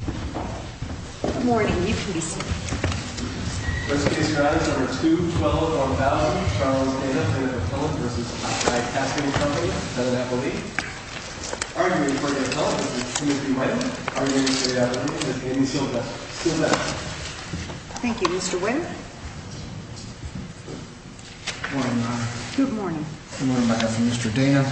Good morning. You can be seated. First case, Your Honor, number 212 on the ballot, Charles Dana, plaintiff at home, v. Top Die Casting Co., defendant at home. Arguing in court at home, this is C.S.P. Wynn. Arguing in the street at home, this is Amy Silva. Silva. Thank you, Mr. Wynn. Good morning, Your Honor. Good morning. Good morning, on behalf of Mr. Dana.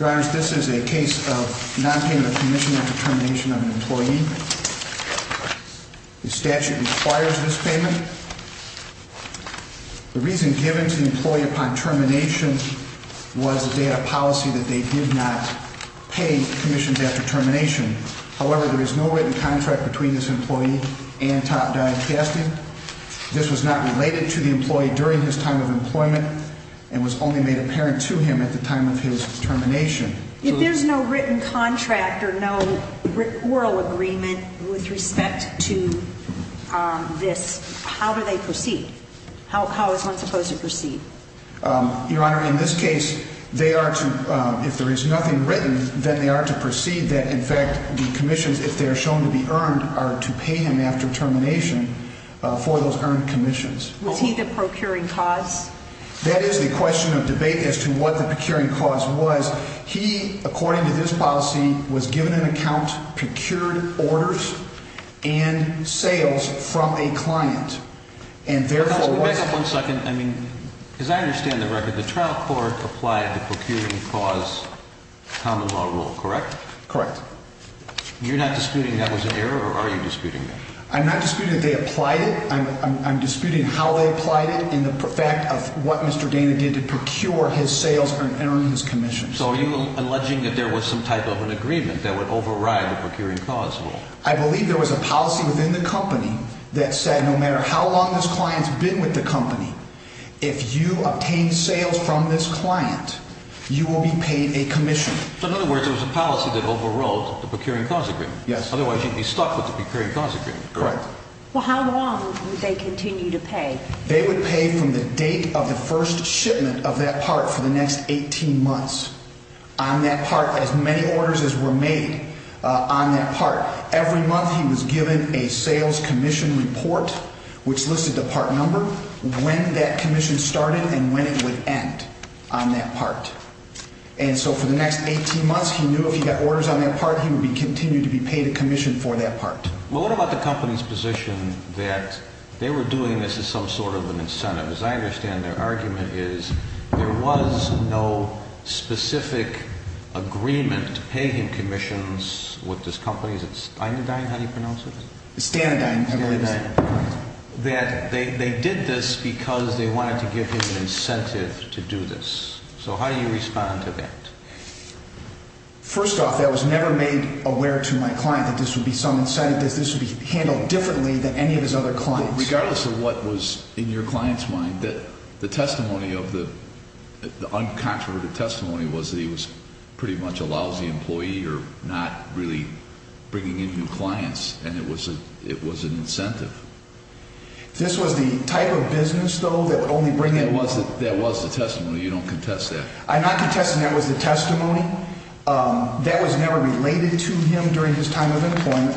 Your Honor, this is a case of nonpayment of commission after termination of an employee. The statute requires this payment. The reason given to the employee upon termination was that they had a policy that they did not pay commissions after termination. However, there is no written contract between this employee and Top Die Casting. This was not related to the employee during his time of employment and was only made apparent to him at the time of his termination. If there's no written contract or no oral agreement with respect to this, how do they proceed? How is one supposed to proceed? Your Honor, in this case, if there is nothing written, then they are to proceed that, in fact, the commissions, if they are shown to be earned, are to pay him after termination for those earned commissions. Was he the procuring cause? That is the question of debate as to what the procuring cause was. He, according to this policy, was given an account, procured orders and sales from a client. Back up one second. As I understand the record, the trial court applied the procuring cause common law rule, correct? Correct. You're not disputing that was an error or are you disputing that? I'm not disputing that they applied it. I'm disputing how they applied it and the fact of what Mr. Dana did to procure his sales and earn his commissions. So are you alleging that there was some type of an agreement that would override the procuring cause rule? I believe there was a policy within the company that said no matter how long this client has been with the company, if you obtain sales from this client, you will be paid a commission. So in other words, there was a policy that overrode the procuring cause agreement. Yes. Otherwise, you'd be stuck with the procuring cause agreement. Correct. Well, how long would they continue to pay? They would pay from the date of the first shipment of that part for the next 18 months on that part, as many orders as were made on that part. Every month he was given a sales commission report, which listed the part number, when that commission started and when it would end on that part. And so for the next 18 months, he knew if he got orders on that part, he would continue to be paid a commission for that part. Well, what about the company's position that they were doing this as some sort of an incentive? As I understand, their argument is there was no specific agreement to pay him commissions with this company. Is it Stanadyne, how do you pronounce it? It's Stanadyne. That they did this because they wanted to give him an incentive to do this. So how do you respond to that? First off, that was never made aware to my client that this would be some incentive. This would be handled differently than any of his other clients. Regardless of what was in your client's mind, the testimony of the uncontroverted testimony was that he was pretty much a lousy employee or not really bringing in new clients. And it was an incentive. This was the type of business, though, that would only bring in— That was the testimony. You don't contest that. I'm not contesting that was the testimony. That was never related to him during his time of employment.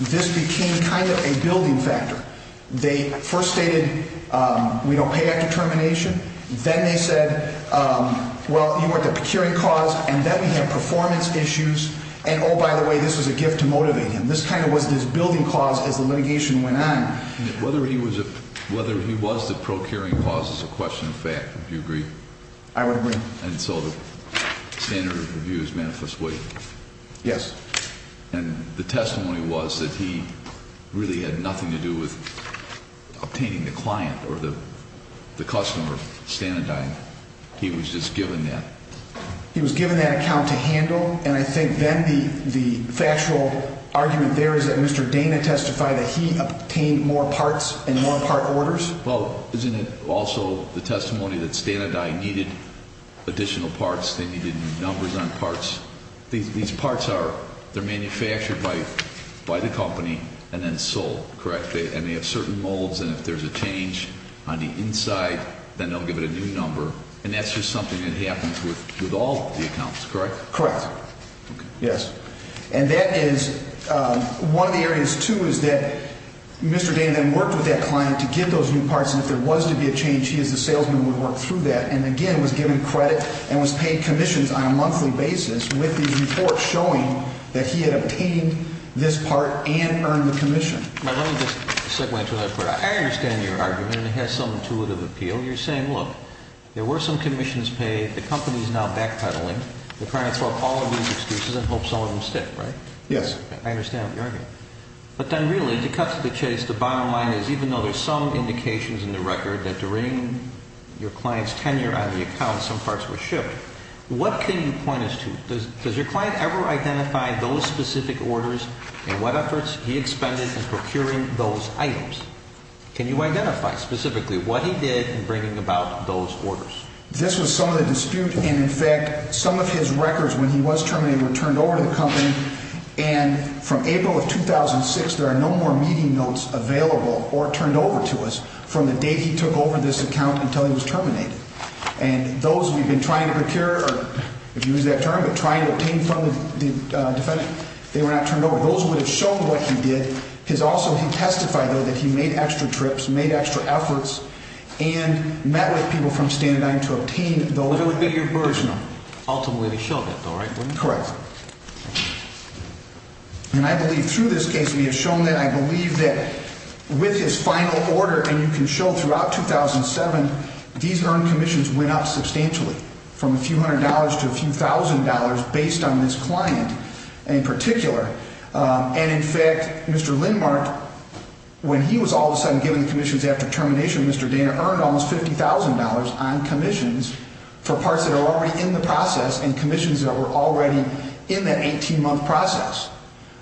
This became kind of a building factor. They first stated, we don't pay after termination. Then they said, well, you want the procuring cause, and then we have performance issues. And, oh, by the way, this was a gift to motivate him. This kind of was this building cause as the litigation went on. Whether he was the procuring cause is a question of fact. Do you agree? I would agree. And so the standard of review is manifest, would you? Yes. And the testimony was that he really had nothing to do with obtaining the client or the customer, Stanadyne. He was just given that. He was given that account to handle. And I think then the factual argument there is that Mr. Dana testified that he obtained more parts and more part orders. Well, isn't it also the testimony that Stanadyne needed additional parts? They needed numbers on parts. These parts are manufactured by the company and then sold, correct? And they have certain molds, and if there's a change on the inside, then they'll give it a new number. And that's just something that happens with all the accounts, correct? Correct. Okay. Yes. And that is one of the areas, too, is that Mr. Dana then worked with that client to get those new parts, and if there was to be a change, he as the salesman would work through that and, again, was given credit and was paid commissions on a monthly basis with these reports showing that he had obtained this part and earned the commission. Let me just segue into another part. I understand your argument, and it has some intuitive appeal. You're saying, look, there were some commissions paid. The company is now backpedaling. They're trying to throw up all of these excuses and hope some of them stick, right? Yes. I understand what you're arguing. But then, really, to cut to the chase, the bottom line is even though there's some indications in the record that during your client's tenure on the account, some parts were shipped, what can you point us to? Does your client ever identify those specific orders and what efforts he expended in procuring those items? Can you identify specifically what he did in bringing about those orders? This was some of the dispute, and, in fact, some of his records when he was terminated were turned over to the company, and from April of 2006 there are no more meeting notes available or turned over to us from the date he took over this account until he was terminated. And those we've been trying to procure, if you use that term, but trying to obtain from the defendant, they were not turned over. Those would have shown what he did. He testified, though, that he made extra trips, made extra efforts, and met with people from Standard & Dime to obtain those original. Ultimately they showed that, though, right? Correct. And I believe through this case we have shown that I believe that with his final order, and you can show throughout 2007, these earned commissions went up substantially from a few hundred dollars to a few thousand dollars based on this client in particular. And, in fact, Mr. Lindmark, when he was all of a sudden given the commissions after termination, Mr. Dana earned almost $50,000 on commissions for parts that were already in the process and commissions that were already in that 18-month process.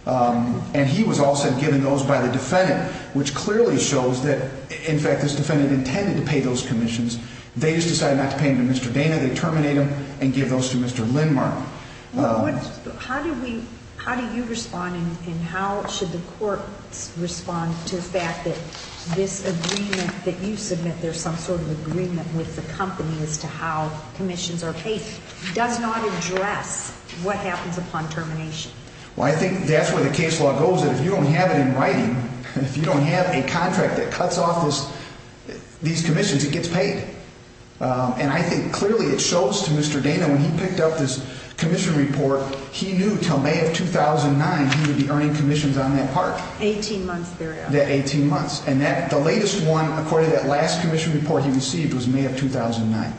And he was all of a sudden given those by the defendant, which clearly shows that, in fact, this defendant intended to pay those commissions. They just decided not to pay them to Mr. Dana. They terminate him and give those to Mr. Lindmark. How do you respond and how should the court respond to the fact that this agreement that you submit, there's some sort of agreement with the company as to how commissions are paid, does not address what happens upon termination? Well, I think that's where the case law goes. If you don't have it in writing, if you don't have a contract that cuts off these commissions, it gets paid. And I think clearly it shows to Mr. Dana when he picked up this commission report, he knew until May of 2009 he would be earning commissions on that part. Eighteen months thereafter. That 18 months. And the latest one, according to that last commission report he received, was May of 2009.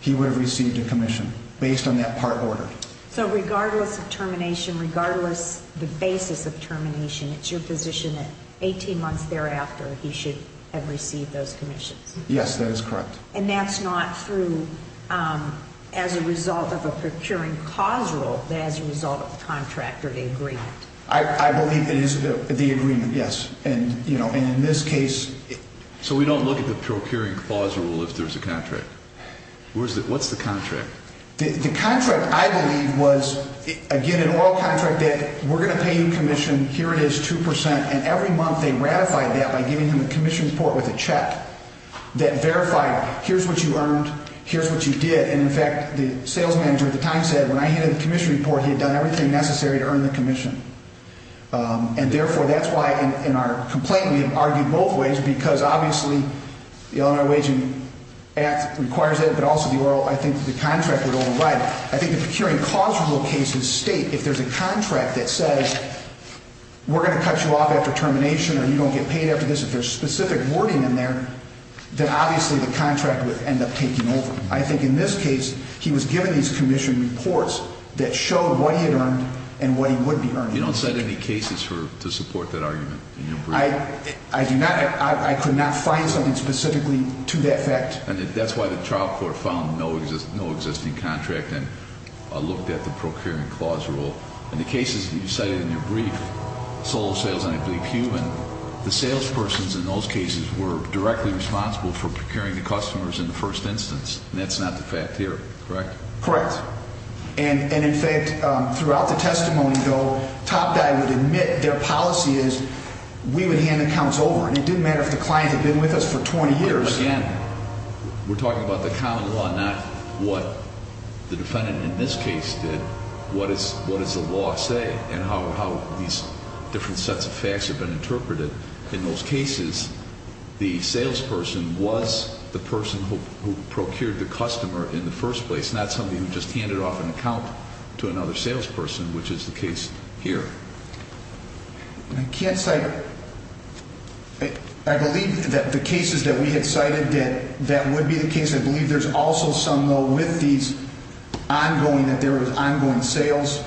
He would have received a commission based on that part order. So regardless of termination, regardless of the basis of termination, it's your position that 18 months thereafter he should have received those commissions? Yes, that is correct. And that's not through, as a result of a procuring clause rule, but as a result of the contract or the agreement? I believe it is the agreement, yes. And, you know, in this case... So we don't look at the procuring clause rule if there's a contract? What's the contract? The contract, I believe, was, again, an oral contract that we're going to pay you commission, here it is, 2%, and every month they ratified that by giving him a commission report with a check that verified, here's what you earned, here's what you did. And, in fact, the sales manager at the time said when I handed the commission report, he had done everything necessary to earn the commission. And, therefore, that's why in our complaint we have argued both ways because, obviously, the Illinois Waging Act requires it, but also I think the contract would override it. I think the procuring clause rule cases state if there's a contract that says, we're going to cut you off after termination or you don't get paid after this, if there's specific wording in there, then, obviously, the contract would end up taking over. I think in this case he was given these commission reports that showed what he had earned and what he would be earning. You don't cite any cases to support that argument in your brief? I do not. I could not find something specifically to that effect. And that's why the trial court found no existing contract and looked at the procuring clause rule. In the cases that you cited in your brief, sole sales and I believe human, the salespersons in those cases were directly responsible for procuring the customers in the first instance, and that's not the fact here, correct? Correct. And, in fact, throughout the testimony, though, Topguy would admit their policy is we would hand the accounts over, and it didn't matter if the client had been with us for 20 years. So, again, we're talking about the common law, not what the defendant in this case did. What does the law say and how these different sets of facts have been interpreted? In those cases, the salesperson was the person who procured the customer in the first place, not somebody who just handed off an account to another salesperson, which is the case here. I can't cite, I believe that the cases that we had cited that would be the case, I believe there's also some, though, with these ongoing, that there was ongoing sales,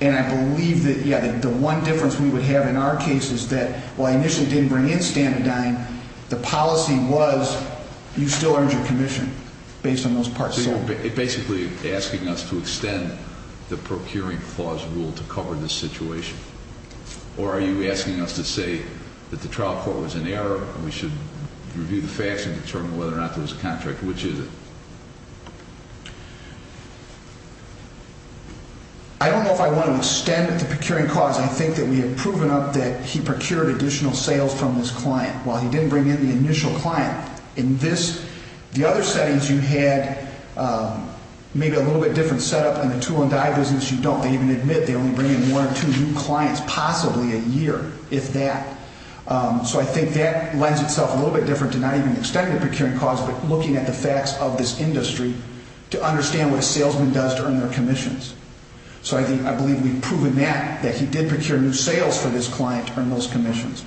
and I believe that, yeah, the one difference we would have in our case is that, while I initially didn't bring in stand-to-dine, the policy was you still earned your commission based on those parts. So you're basically asking us to extend the procuring clause rule to cover this situation? Or are you asking us to say that the trial court was in error, and we should review the facts and determine whether or not there was a contract? Which is it? I don't know if I want to extend the procuring clause. I think that we have proven up that he procured additional sales from his client, while he didn't bring in the initial client. In this, the other settings, you had maybe a little bit different setup. In the two-on-die business, you don't. They even admit they only bring in one or two new clients, possibly a year, if that. So I think that lends itself a little bit different to not even extending the procuring clause, but looking at the facts of this industry to understand what a salesman does to earn their commissions. So I believe we've proven that, that he did procure new sales for this client to earn those commissions.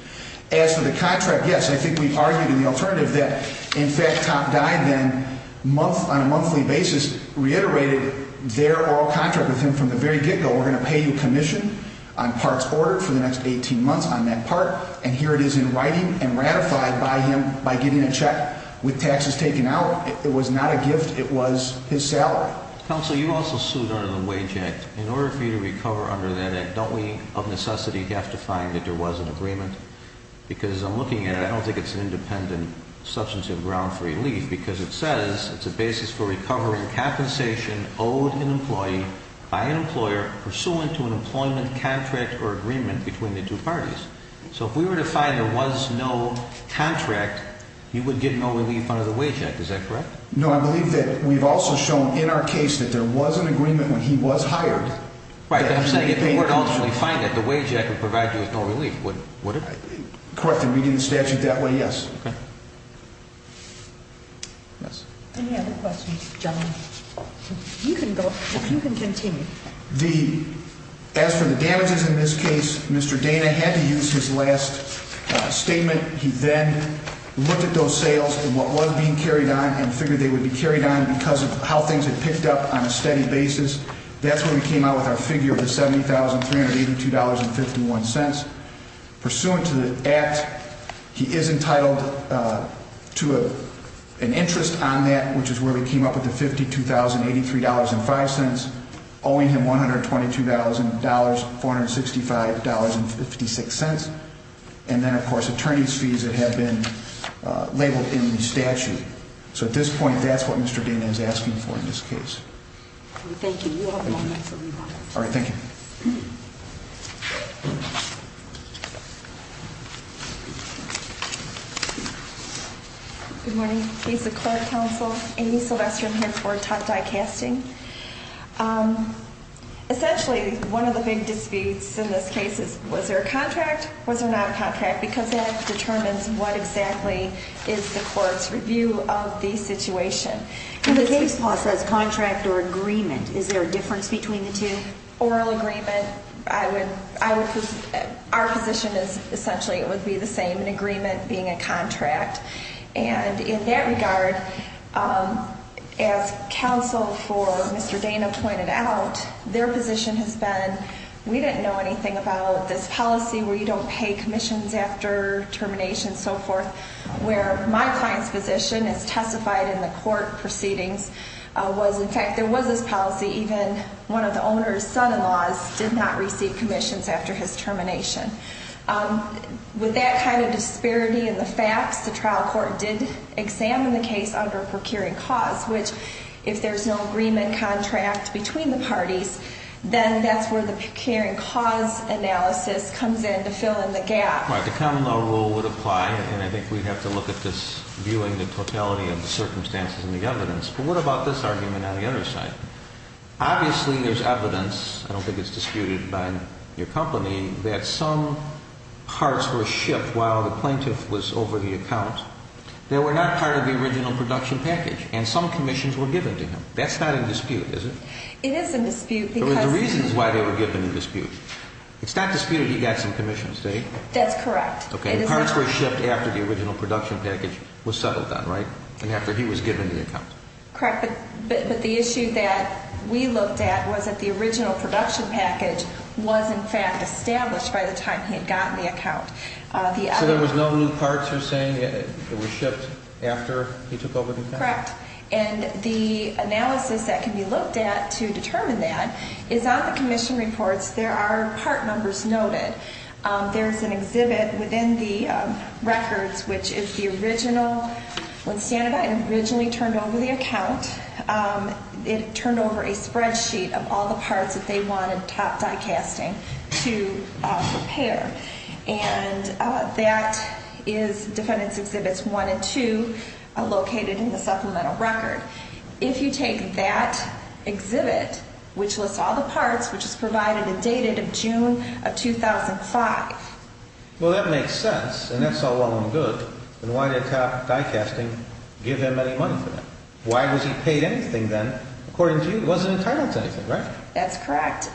As for the contract, yes, I think we've argued in the alternative that, in fact, Topp died then on a monthly basis, reiterated their oral contract with him from the very get-go. We're going to pay you commission on parts ordered for the next 18 months on that part, and here it is in writing and ratified by him by getting a check with taxes taken out. It was not a gift. It was his salary. Counsel, you also sued under the Wage Act. In order for you to recover under that Act, don't we, of necessity, have to find that there was an agreement? Because as I'm looking at it, I don't think it's an independent substantive ground for relief because it says it's a basis for recovering compensation owed an employee by an employer pursuant to an employment contract or agreement between the two parties. So if we were to find there was no contract, you would get no relief under the Wage Act. Is that correct? No, I believe that we've also shown in our case that there was an agreement when he was hired. Right, but I'm saying if you were to ultimately find it, the Wage Act would provide you with no relief, would it? Correct in reading the statute that way, yes. Any other questions, gentlemen? You can go. You can continue. As for the damages in this case, Mr. Dana had to use his last statement. He then looked at those sales and what was being carried on and figured they would be carried on because of how things had picked up on a steady basis. That's where we came out with our figure of the $70,382.51. Pursuant to the Act, he is entitled to an interest on that, which is where we came up with the $52,083.05, owing him $122,465.56. And then, of course, attorney's fees that have been labeled in the statute. So at this point, that's what Mr. Dana is asking for in this case. Thank you. You have one minute to leave. All right, thank you. Good morning. Lisa Clark, counsel. Amy Sylvester, I'm here for Tuck Dye Casting. Essentially, one of the big disputes in this case is was there a contract, was there not a contract, because that determines what exactly is the court's review of the situation. In the case law, it says contract or agreement. Is there a difference between the two? Oral agreement, I would, our position is essentially it would be the same, an agreement being a contract. And in that regard, as counsel for Mr. Dana pointed out, their position has been, we didn't know anything about this policy where you don't pay commissions after termination and so forth, where my client's position as testified in the court proceedings was, in fact, there was this policy, even one of the owner's son-in-laws did not receive commissions after his termination. With that kind of disparity in the facts, the trial court did examine the case under procuring cause, which if there's no agreement, contract between the parties, then that's where the procuring cause analysis comes in to fill in the gap. Right, the common law rule would apply, and I think we'd have to look at this, viewing the totality of the circumstances and the evidence. But what about this argument on the other side? Obviously, there's evidence, I don't think it's disputed by your company, that some parts were shipped while the plaintiff was over the account that were not part of the original production package, and some commissions were given to him. That's not in dispute, is it? It is in dispute because… There was reasons why they were given in dispute. It's not disputed he got some commissions, did he? That's correct. Okay, and parts were shipped after the original production package was settled on, right? And after he was given the account. Correct. But the issue that we looked at was that the original production package was, in fact, established by the time he had gotten the account. So there was no new parts you're saying that were shipped after he took over the account? Correct. And the analysis that can be looked at to determine that is on the commission reports, there are part numbers noted. There's an exhibit within the records, which is the original, when Standardite originally turned over the account, it turned over a spreadsheet of all the parts that they wanted top die casting to prepare. And that is defendants exhibits one and two located in the supplemental record. If you take that exhibit, which lists all the parts, which is provided and dated of June of 2005. Well, that makes sense, and that's all well and good. And why did top die casting give him any money for that? Why was he paid anything then? According to you, he wasn't entitled to anything, right? That's correct.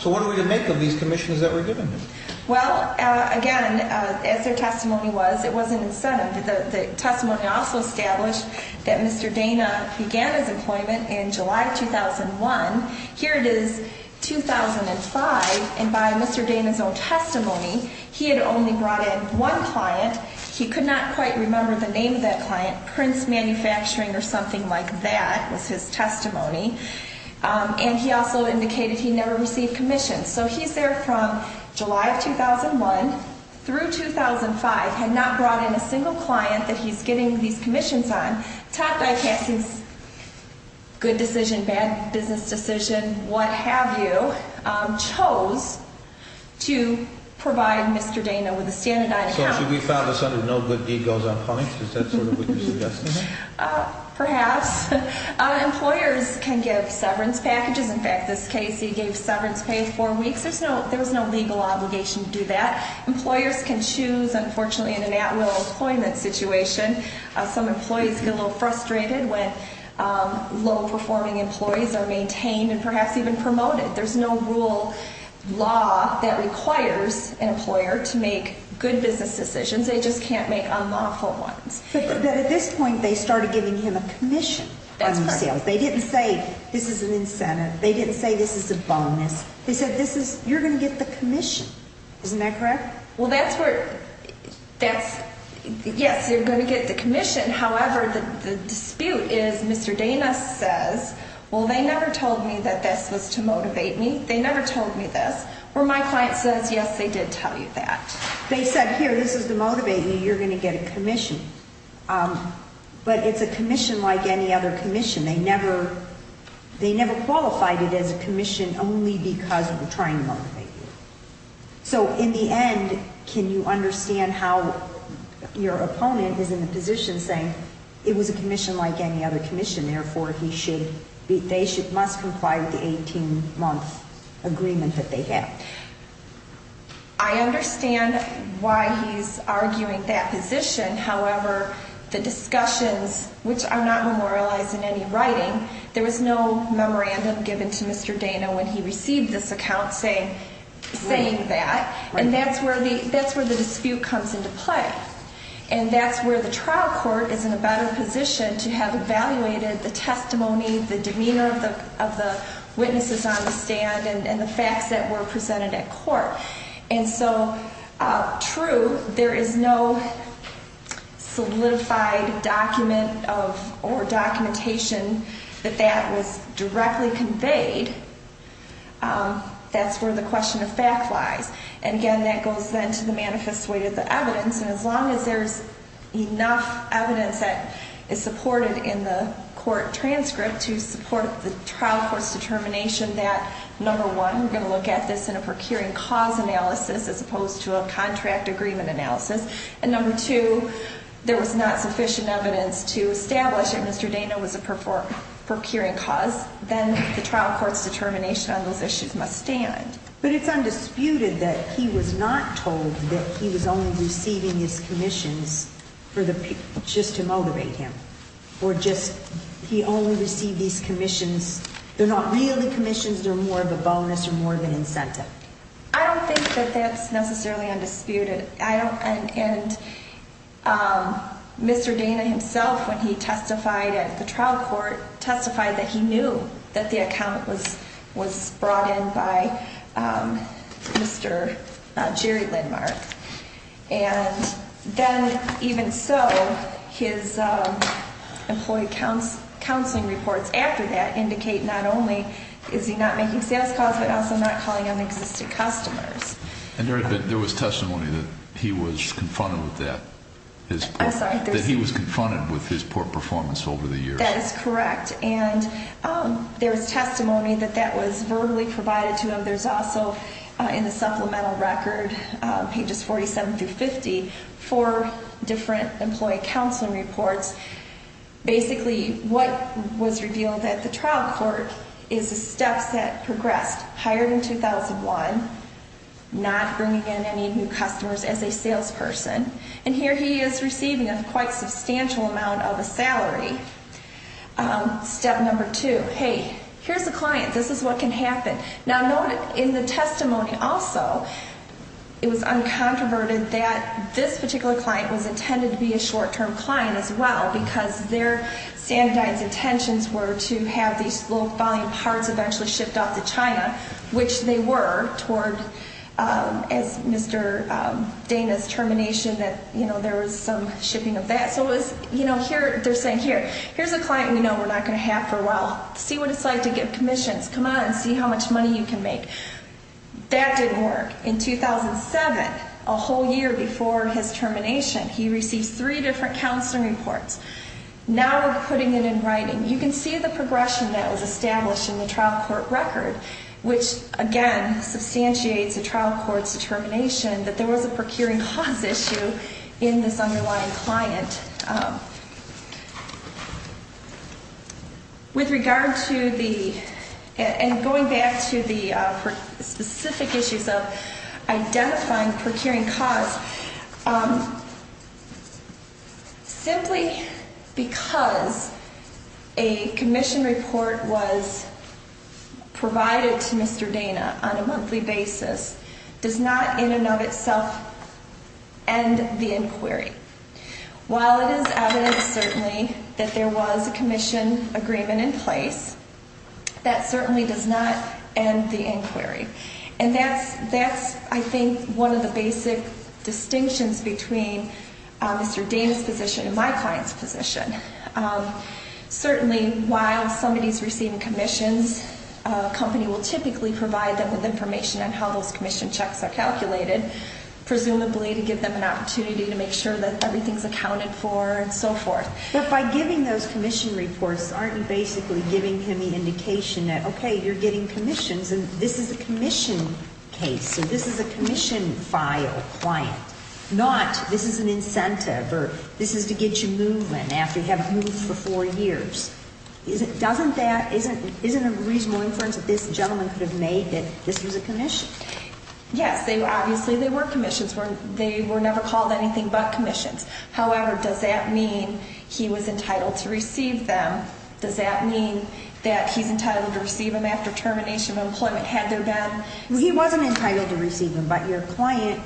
So what are we to make of these commissions that were given him? Well, again, as their testimony was, it wasn't incentive. The testimony also established that Mr. Dana began his employment in July 2001. Here it is 2005, and by Mr. Dana's own testimony, he had only brought in one client. He could not quite remember the name of that client, Prince Manufacturing or something like that was his testimony. And he also indicated he never received commissions. So he's there from July of 2001 through 2005, had not brought in a single client that he's getting these commissions on. Top die casting's good decision, bad business decision, what have you, chose to provide Mr. Dana with a Standardite account. So should we file this under no good deed goes unpunished? Is that sort of what you're suggesting? Perhaps. Employers can give severance packages. In fact, this case, he gave severance pay four weeks. There's no legal obligation to do that. Employers can choose, unfortunately, in an at-will employment situation. Some employees get a little frustrated when low-performing employees are maintained and perhaps even promoted. There's no rule, law, that requires an employer to make good business decisions. They just can't make unlawful ones. But at this point, they started giving him a commission. That's correct. They didn't say this is an incentive. They didn't say this is a bonus. They said this is, you're going to get the commission. Isn't that correct? Well, that's where, that's, yes, you're going to get the commission. However, the dispute is Mr. Dana says, well, they never told me that this was to motivate me. They never told me this. Where my client says, yes, they did tell you that. They said, here, this is to motivate you. You're going to get a commission. But it's a commission like any other commission. They never qualified it as a commission only because we're trying to motivate you. So, in the end, can you understand how your opponent is in the position saying it was a commission like any other commission, therefore, he should, they must comply with the 18-month agreement that they have? I understand why he's arguing that position. However, the discussions, which are not memorialized in any writing, there was no memorandum given to Mr. Dana when he received this account saying that. And that's where the dispute comes into play. And that's where the trial court is in a better position to have evaluated the testimony, the demeanor of the witnesses on the stand, and the facts that were presented at court. And so, true, there is no solidified document of, or documentation that that was directly conveyed. That's where the question of fact lies. And, again, that goes then to the manifest way to the evidence. And as long as there's enough evidence that is supported in the court transcript to support the trial court's determination that, number one, we're going to look at this in a procuring cause analysis as opposed to a contract agreement analysis, and number two, there was not sufficient evidence to establish that Mr. Dana was a procuring cause, then the trial court's determination on those issues must stand. But it's undisputed that he was not told that he was only receiving his commissions just to motivate him. Or just he only received these commissions. They're not really commissions. They're more of a bonus or more of an incentive. I don't think that that's necessarily undisputed. And Mr. Dana himself, when he testified at the trial court, testified that he knew that the account was brought in by Mr. Jerry Lindmark. And then, even so, his employee counseling reports after that indicate not only is he not making sales calls but also not calling on existing customers. And there was testimony that he was confronted with that. I'm sorry. That he was confronted with his poor performance over the years. That is correct. And there was testimony that that was verbally provided to him. There's also in the supplemental record, pages 47 through 50, four different employee counseling reports. Basically, what was revealed at the trial court is the steps that progressed. Hired in 2001, not bringing in any new customers as a salesperson. And here he is receiving a quite substantial amount of a salary. Step number two, hey, here's a client. This is what can happen. Now, noted in the testimony also, it was uncontroverted that this particular client was intended to be a short-term client as well because their standardized intentions were to have these low-volume parts eventually shipped off to China, which they were toward, as Mr. Dana's termination, that, you know, there was some shipping of that. So it was, you know, here, they're saying, here, here's a client we know we're not going to have for a while. See what it's like to get commissions. Come on and see how much money you can make. That didn't work. In 2007, a whole year before his termination, he receives three different counseling reports. Now we're putting it in writing. You can see the progression that was established in the trial court record, which, again, substantiates the trial court's determination that there was a procuring cause issue in this underlying client. With regard to the, and going back to the specific issues of identifying procuring cause, simply because a commission report was provided to Mr. Dana on a monthly basis does not in and of itself end the inquiry. While it is evident, certainly, that there was a commission agreement in place, that certainly does not end the inquiry. And that's, I think, one of the basic distinctions between Mr. Dana's position and my client's position. Certainly, while somebody's receiving commissions, a company will typically provide them with information on how those commission checks are calculated, presumably to give them an opportunity to make sure that everything's accounted for and so forth. But by giving those commission reports, aren't you basically giving him the indication that, okay, you're getting commissions and this is a commission case, so this is a commission file client, not this is an incentive or this is to get you moving after you haven't moved for four years? Isn't a reasonable inference that this gentleman could have made that this was a commission? Yes, obviously they were commissions. They were never called anything but commissions. However, does that mean he was entitled to receive them? Does that mean that he's entitled to receive them after termination of employment, had there been? He wasn't entitled to receive them, but your client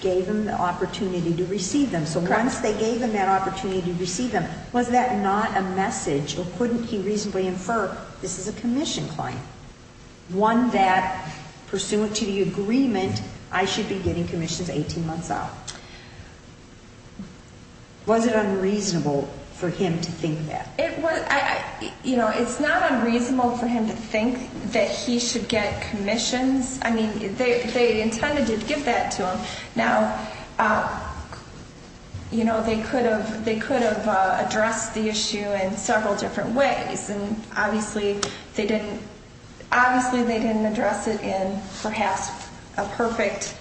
gave him the opportunity to receive them. So once they gave him that opportunity to receive them, was that not a message or couldn't he reasonably infer this is a commission client, one that, pursuant to the agreement, I should be getting commissions 18 months out? Was it unreasonable for him to think that? You know, it's not unreasonable for him to think that he should get commissions. I mean, they intended to give that to him. Now, you know, they could have addressed the issue in several different ways, and obviously they didn't address it in perhaps a perfect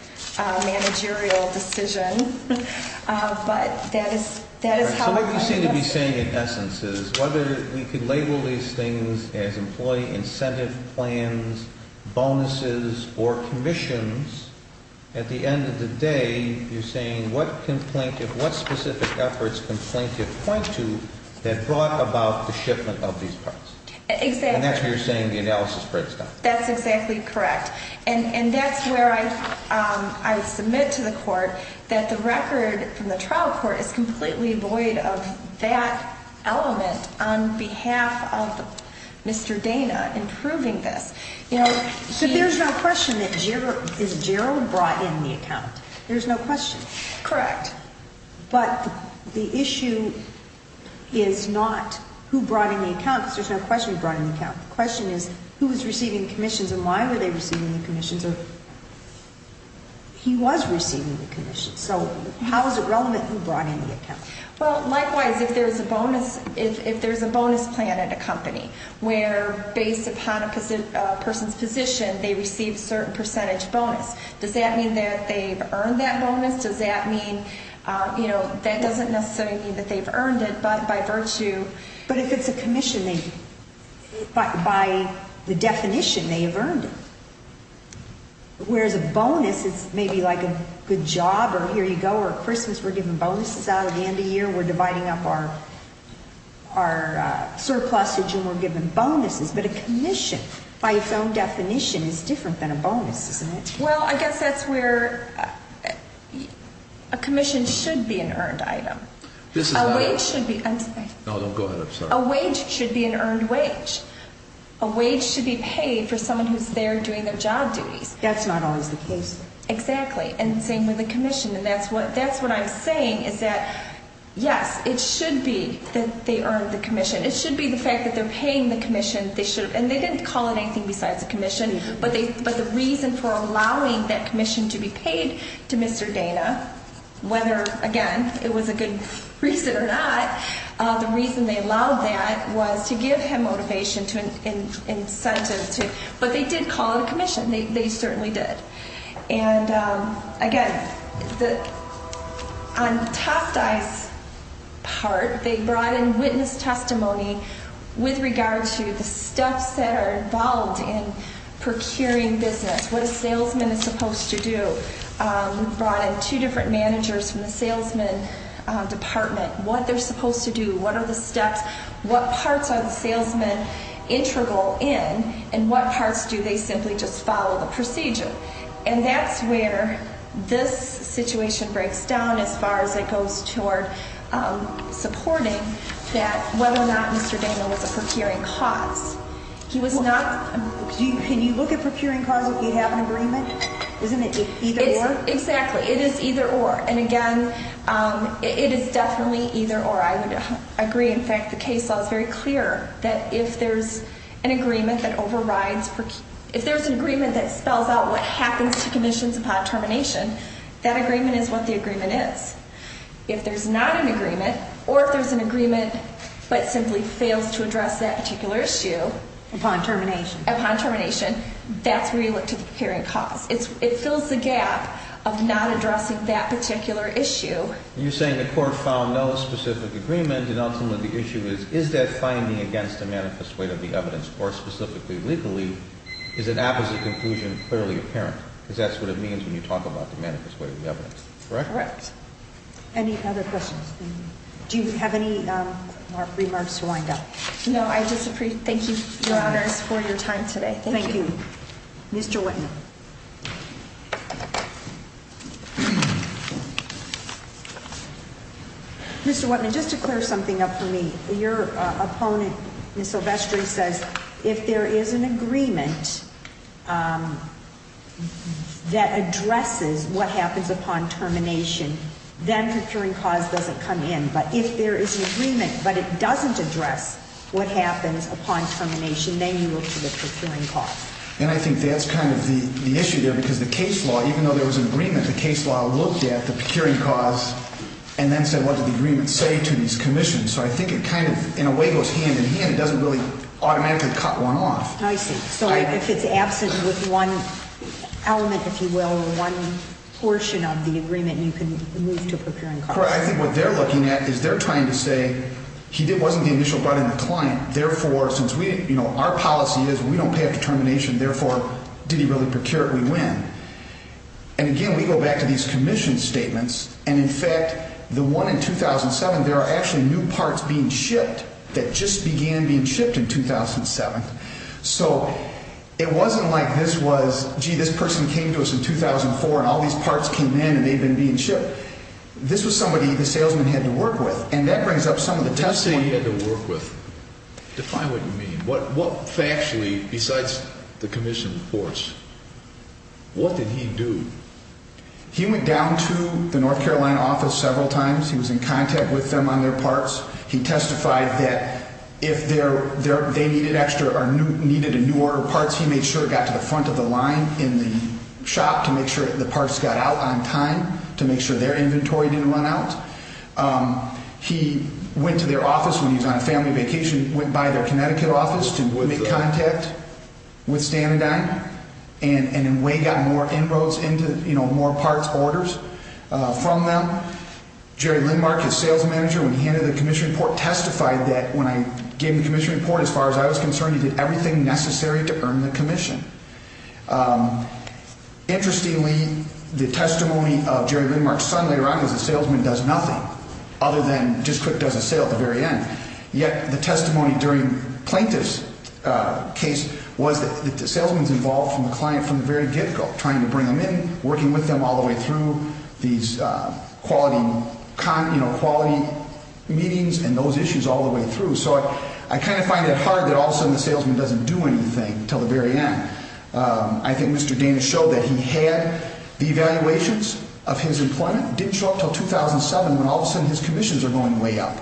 managerial decision. But that is how I would look at it. So what you seem to be saying in essence is whether we could label these things as employee incentive plans, bonuses, or commissions, at the end of the day you're saying what specific efforts can plaintiff point to that brought about the shipment of these parts. Exactly. And that's what you're saying the analysis breaks down. That's exactly correct. And that's where I submit to the court that the record from the trial court is completely void of that element on behalf of Mr. Dana in proving this. So there's no question that Gerald brought in the account. There's no question. Correct. But the issue is not who brought in the account, because there's no question he brought in the account. The question is who was receiving commissions and why were they receiving the commissions, or he was receiving the commissions. So how is it relevant who brought in the account? Well, likewise, if there's a bonus plan at a company where, based upon a person's position, they receive a certain percentage bonus, does that mean that they've earned that bonus? Does that mean, you know, that doesn't necessarily mean that they've earned it, but by virtue. But if it's a commission, by the definition, they have earned it. Whereas a bonus is maybe like a good job or here you go or Christmas, we're giving bonuses out at the end of the year, we're dividing up our surplusage and we're giving bonuses. But a commission, by its own definition, is different than a bonus, isn't it? Well, I guess that's where a commission should be an earned item. A wage should be an earned wage. A wage should be paid for someone who's there doing their job duties. That's not always the case. Exactly. And the same with a commission. And that's what I'm saying is that, yes, it should be that they earned the commission. It should be the fact that they're paying the commission. And they didn't call it anything besides a commission. But the reason for allowing that commission to be paid to Mr. Dana, whether, again, it was a good reason or not, the reason they allowed that was to give him motivation and incentive. But they did call it a commission. They certainly did. And, again, on Tostai's part, they brought in witness testimony with regard to the steps that are involved in procuring business, what a salesman is supposed to do. They brought in two different managers from the salesman department, what they're supposed to do, what are the steps, what parts are the salesmen integral in, and what parts do they simply just follow the procedure. And that's where this situation breaks down as far as it goes toward supporting that whether or not Mr. Dana was a procuring cause. He was not. Can you look at procuring cause if you have an agreement? Isn't it either or? Exactly. It is either or. And, again, it is definitely either or. I agree. In fact, the case law is very clear that if there's an agreement that spells out what happens to commissions upon termination, that agreement is what the agreement is. If there's not an agreement or if there's an agreement but simply fails to address that particular issue upon termination, that's where you look to the procuring cause. It fills the gap of not addressing that particular issue. You're saying the court found no specific agreement and ultimately the issue is, is that finding against the manifest weight of the evidence, or specifically legally, is an apposite conclusion clearly apparent? Because that's what it means when you talk about the manifest weight of the evidence, correct? Correct. Any other questions? Do you have any remarks to wind up? No, I disagree. Thank you, Your Honors, for your time today. Thank you. Thank you. Mr. Whitman. Mr. Whitman, just to clear something up for me. Your opponent, Ms. Silvestri, says if there is an agreement that addresses what happens upon termination, then procuring cause doesn't come in. But if there is an agreement but it doesn't address what happens upon termination, then you look to the procuring cause. And I think that's kind of the issue there because the case law, even though there was an agreement, the case law looked at the procuring cause and then said what did the agreement say to these commissions. So I think it kind of, in a way, goes hand in hand. It doesn't really automatically cut one off. I see. So if it's absent with one element, if you will, or one portion of the agreement, you can move to procuring cause. Correct. I think what they're looking at is they're trying to say he wasn't the initial brunt in the client. Therefore, since our policy is we don't pay after termination, therefore, did he really procure it? We win. And, again, we go back to these commission statements. And, in fact, the one in 2007, there are actually new parts being shipped that just began being shipped in 2007. So it wasn't like this was, gee, this person came to us in 2004 and all these parts came in and they've been being shipped. This was somebody the salesman had to work with. And that brings up some of the test points. What did he say he had to work with? Define what you mean. What factually, besides the commission reports, what did he do? He went down to the North Carolina office several times. He was in contact with them on their parts. He testified that if they needed extra or needed a new order of parts, he made sure it got to the front of the line in the shop to make sure the parts got out on time to make sure their inventory didn't run out. He went to their office when he was on a family vacation, went by their Connecticut office to make contact with Stanadyne, and in a way got more inroads into more parts orders from them. Jerry Lindmark, his sales manager, when he handed the commission report, testified that when I gave him the commission report, as far as I was concerned, he did everything necessary to earn the commission. Interestingly, the testimony of Jerry Lindmark's son later on was the salesman does nothing other than just quick does a sale at the very end. Yet the testimony during Plaintiff's case was that the salesman is involved with the client from the very get-go, trying to bring them in, working with them all the way through these quality meetings and those issues all the way through. So I kind of find it hard that all of a sudden the salesman doesn't do anything until the very end. I think Mr. Dana showed that he had the evaluations of his employment, didn't show up until 2007, when all of a sudden his commissions are going way up,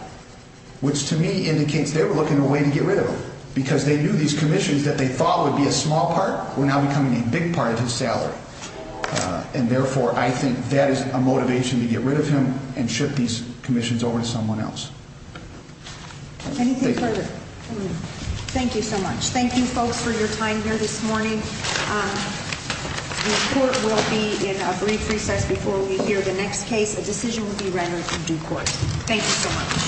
which to me indicates they were looking for a way to get rid of him, because they knew these commissions that they thought would be a small part were now becoming a big part of his salary. And therefore, I think that is a motivation to get rid of him and ship these commissions over to someone else. Anything further? Thank you so much. Thank you, folks, for your time here this morning. The court will be in a brief recess before we hear the next case. A decision will be rendered to due court. Thank you so much.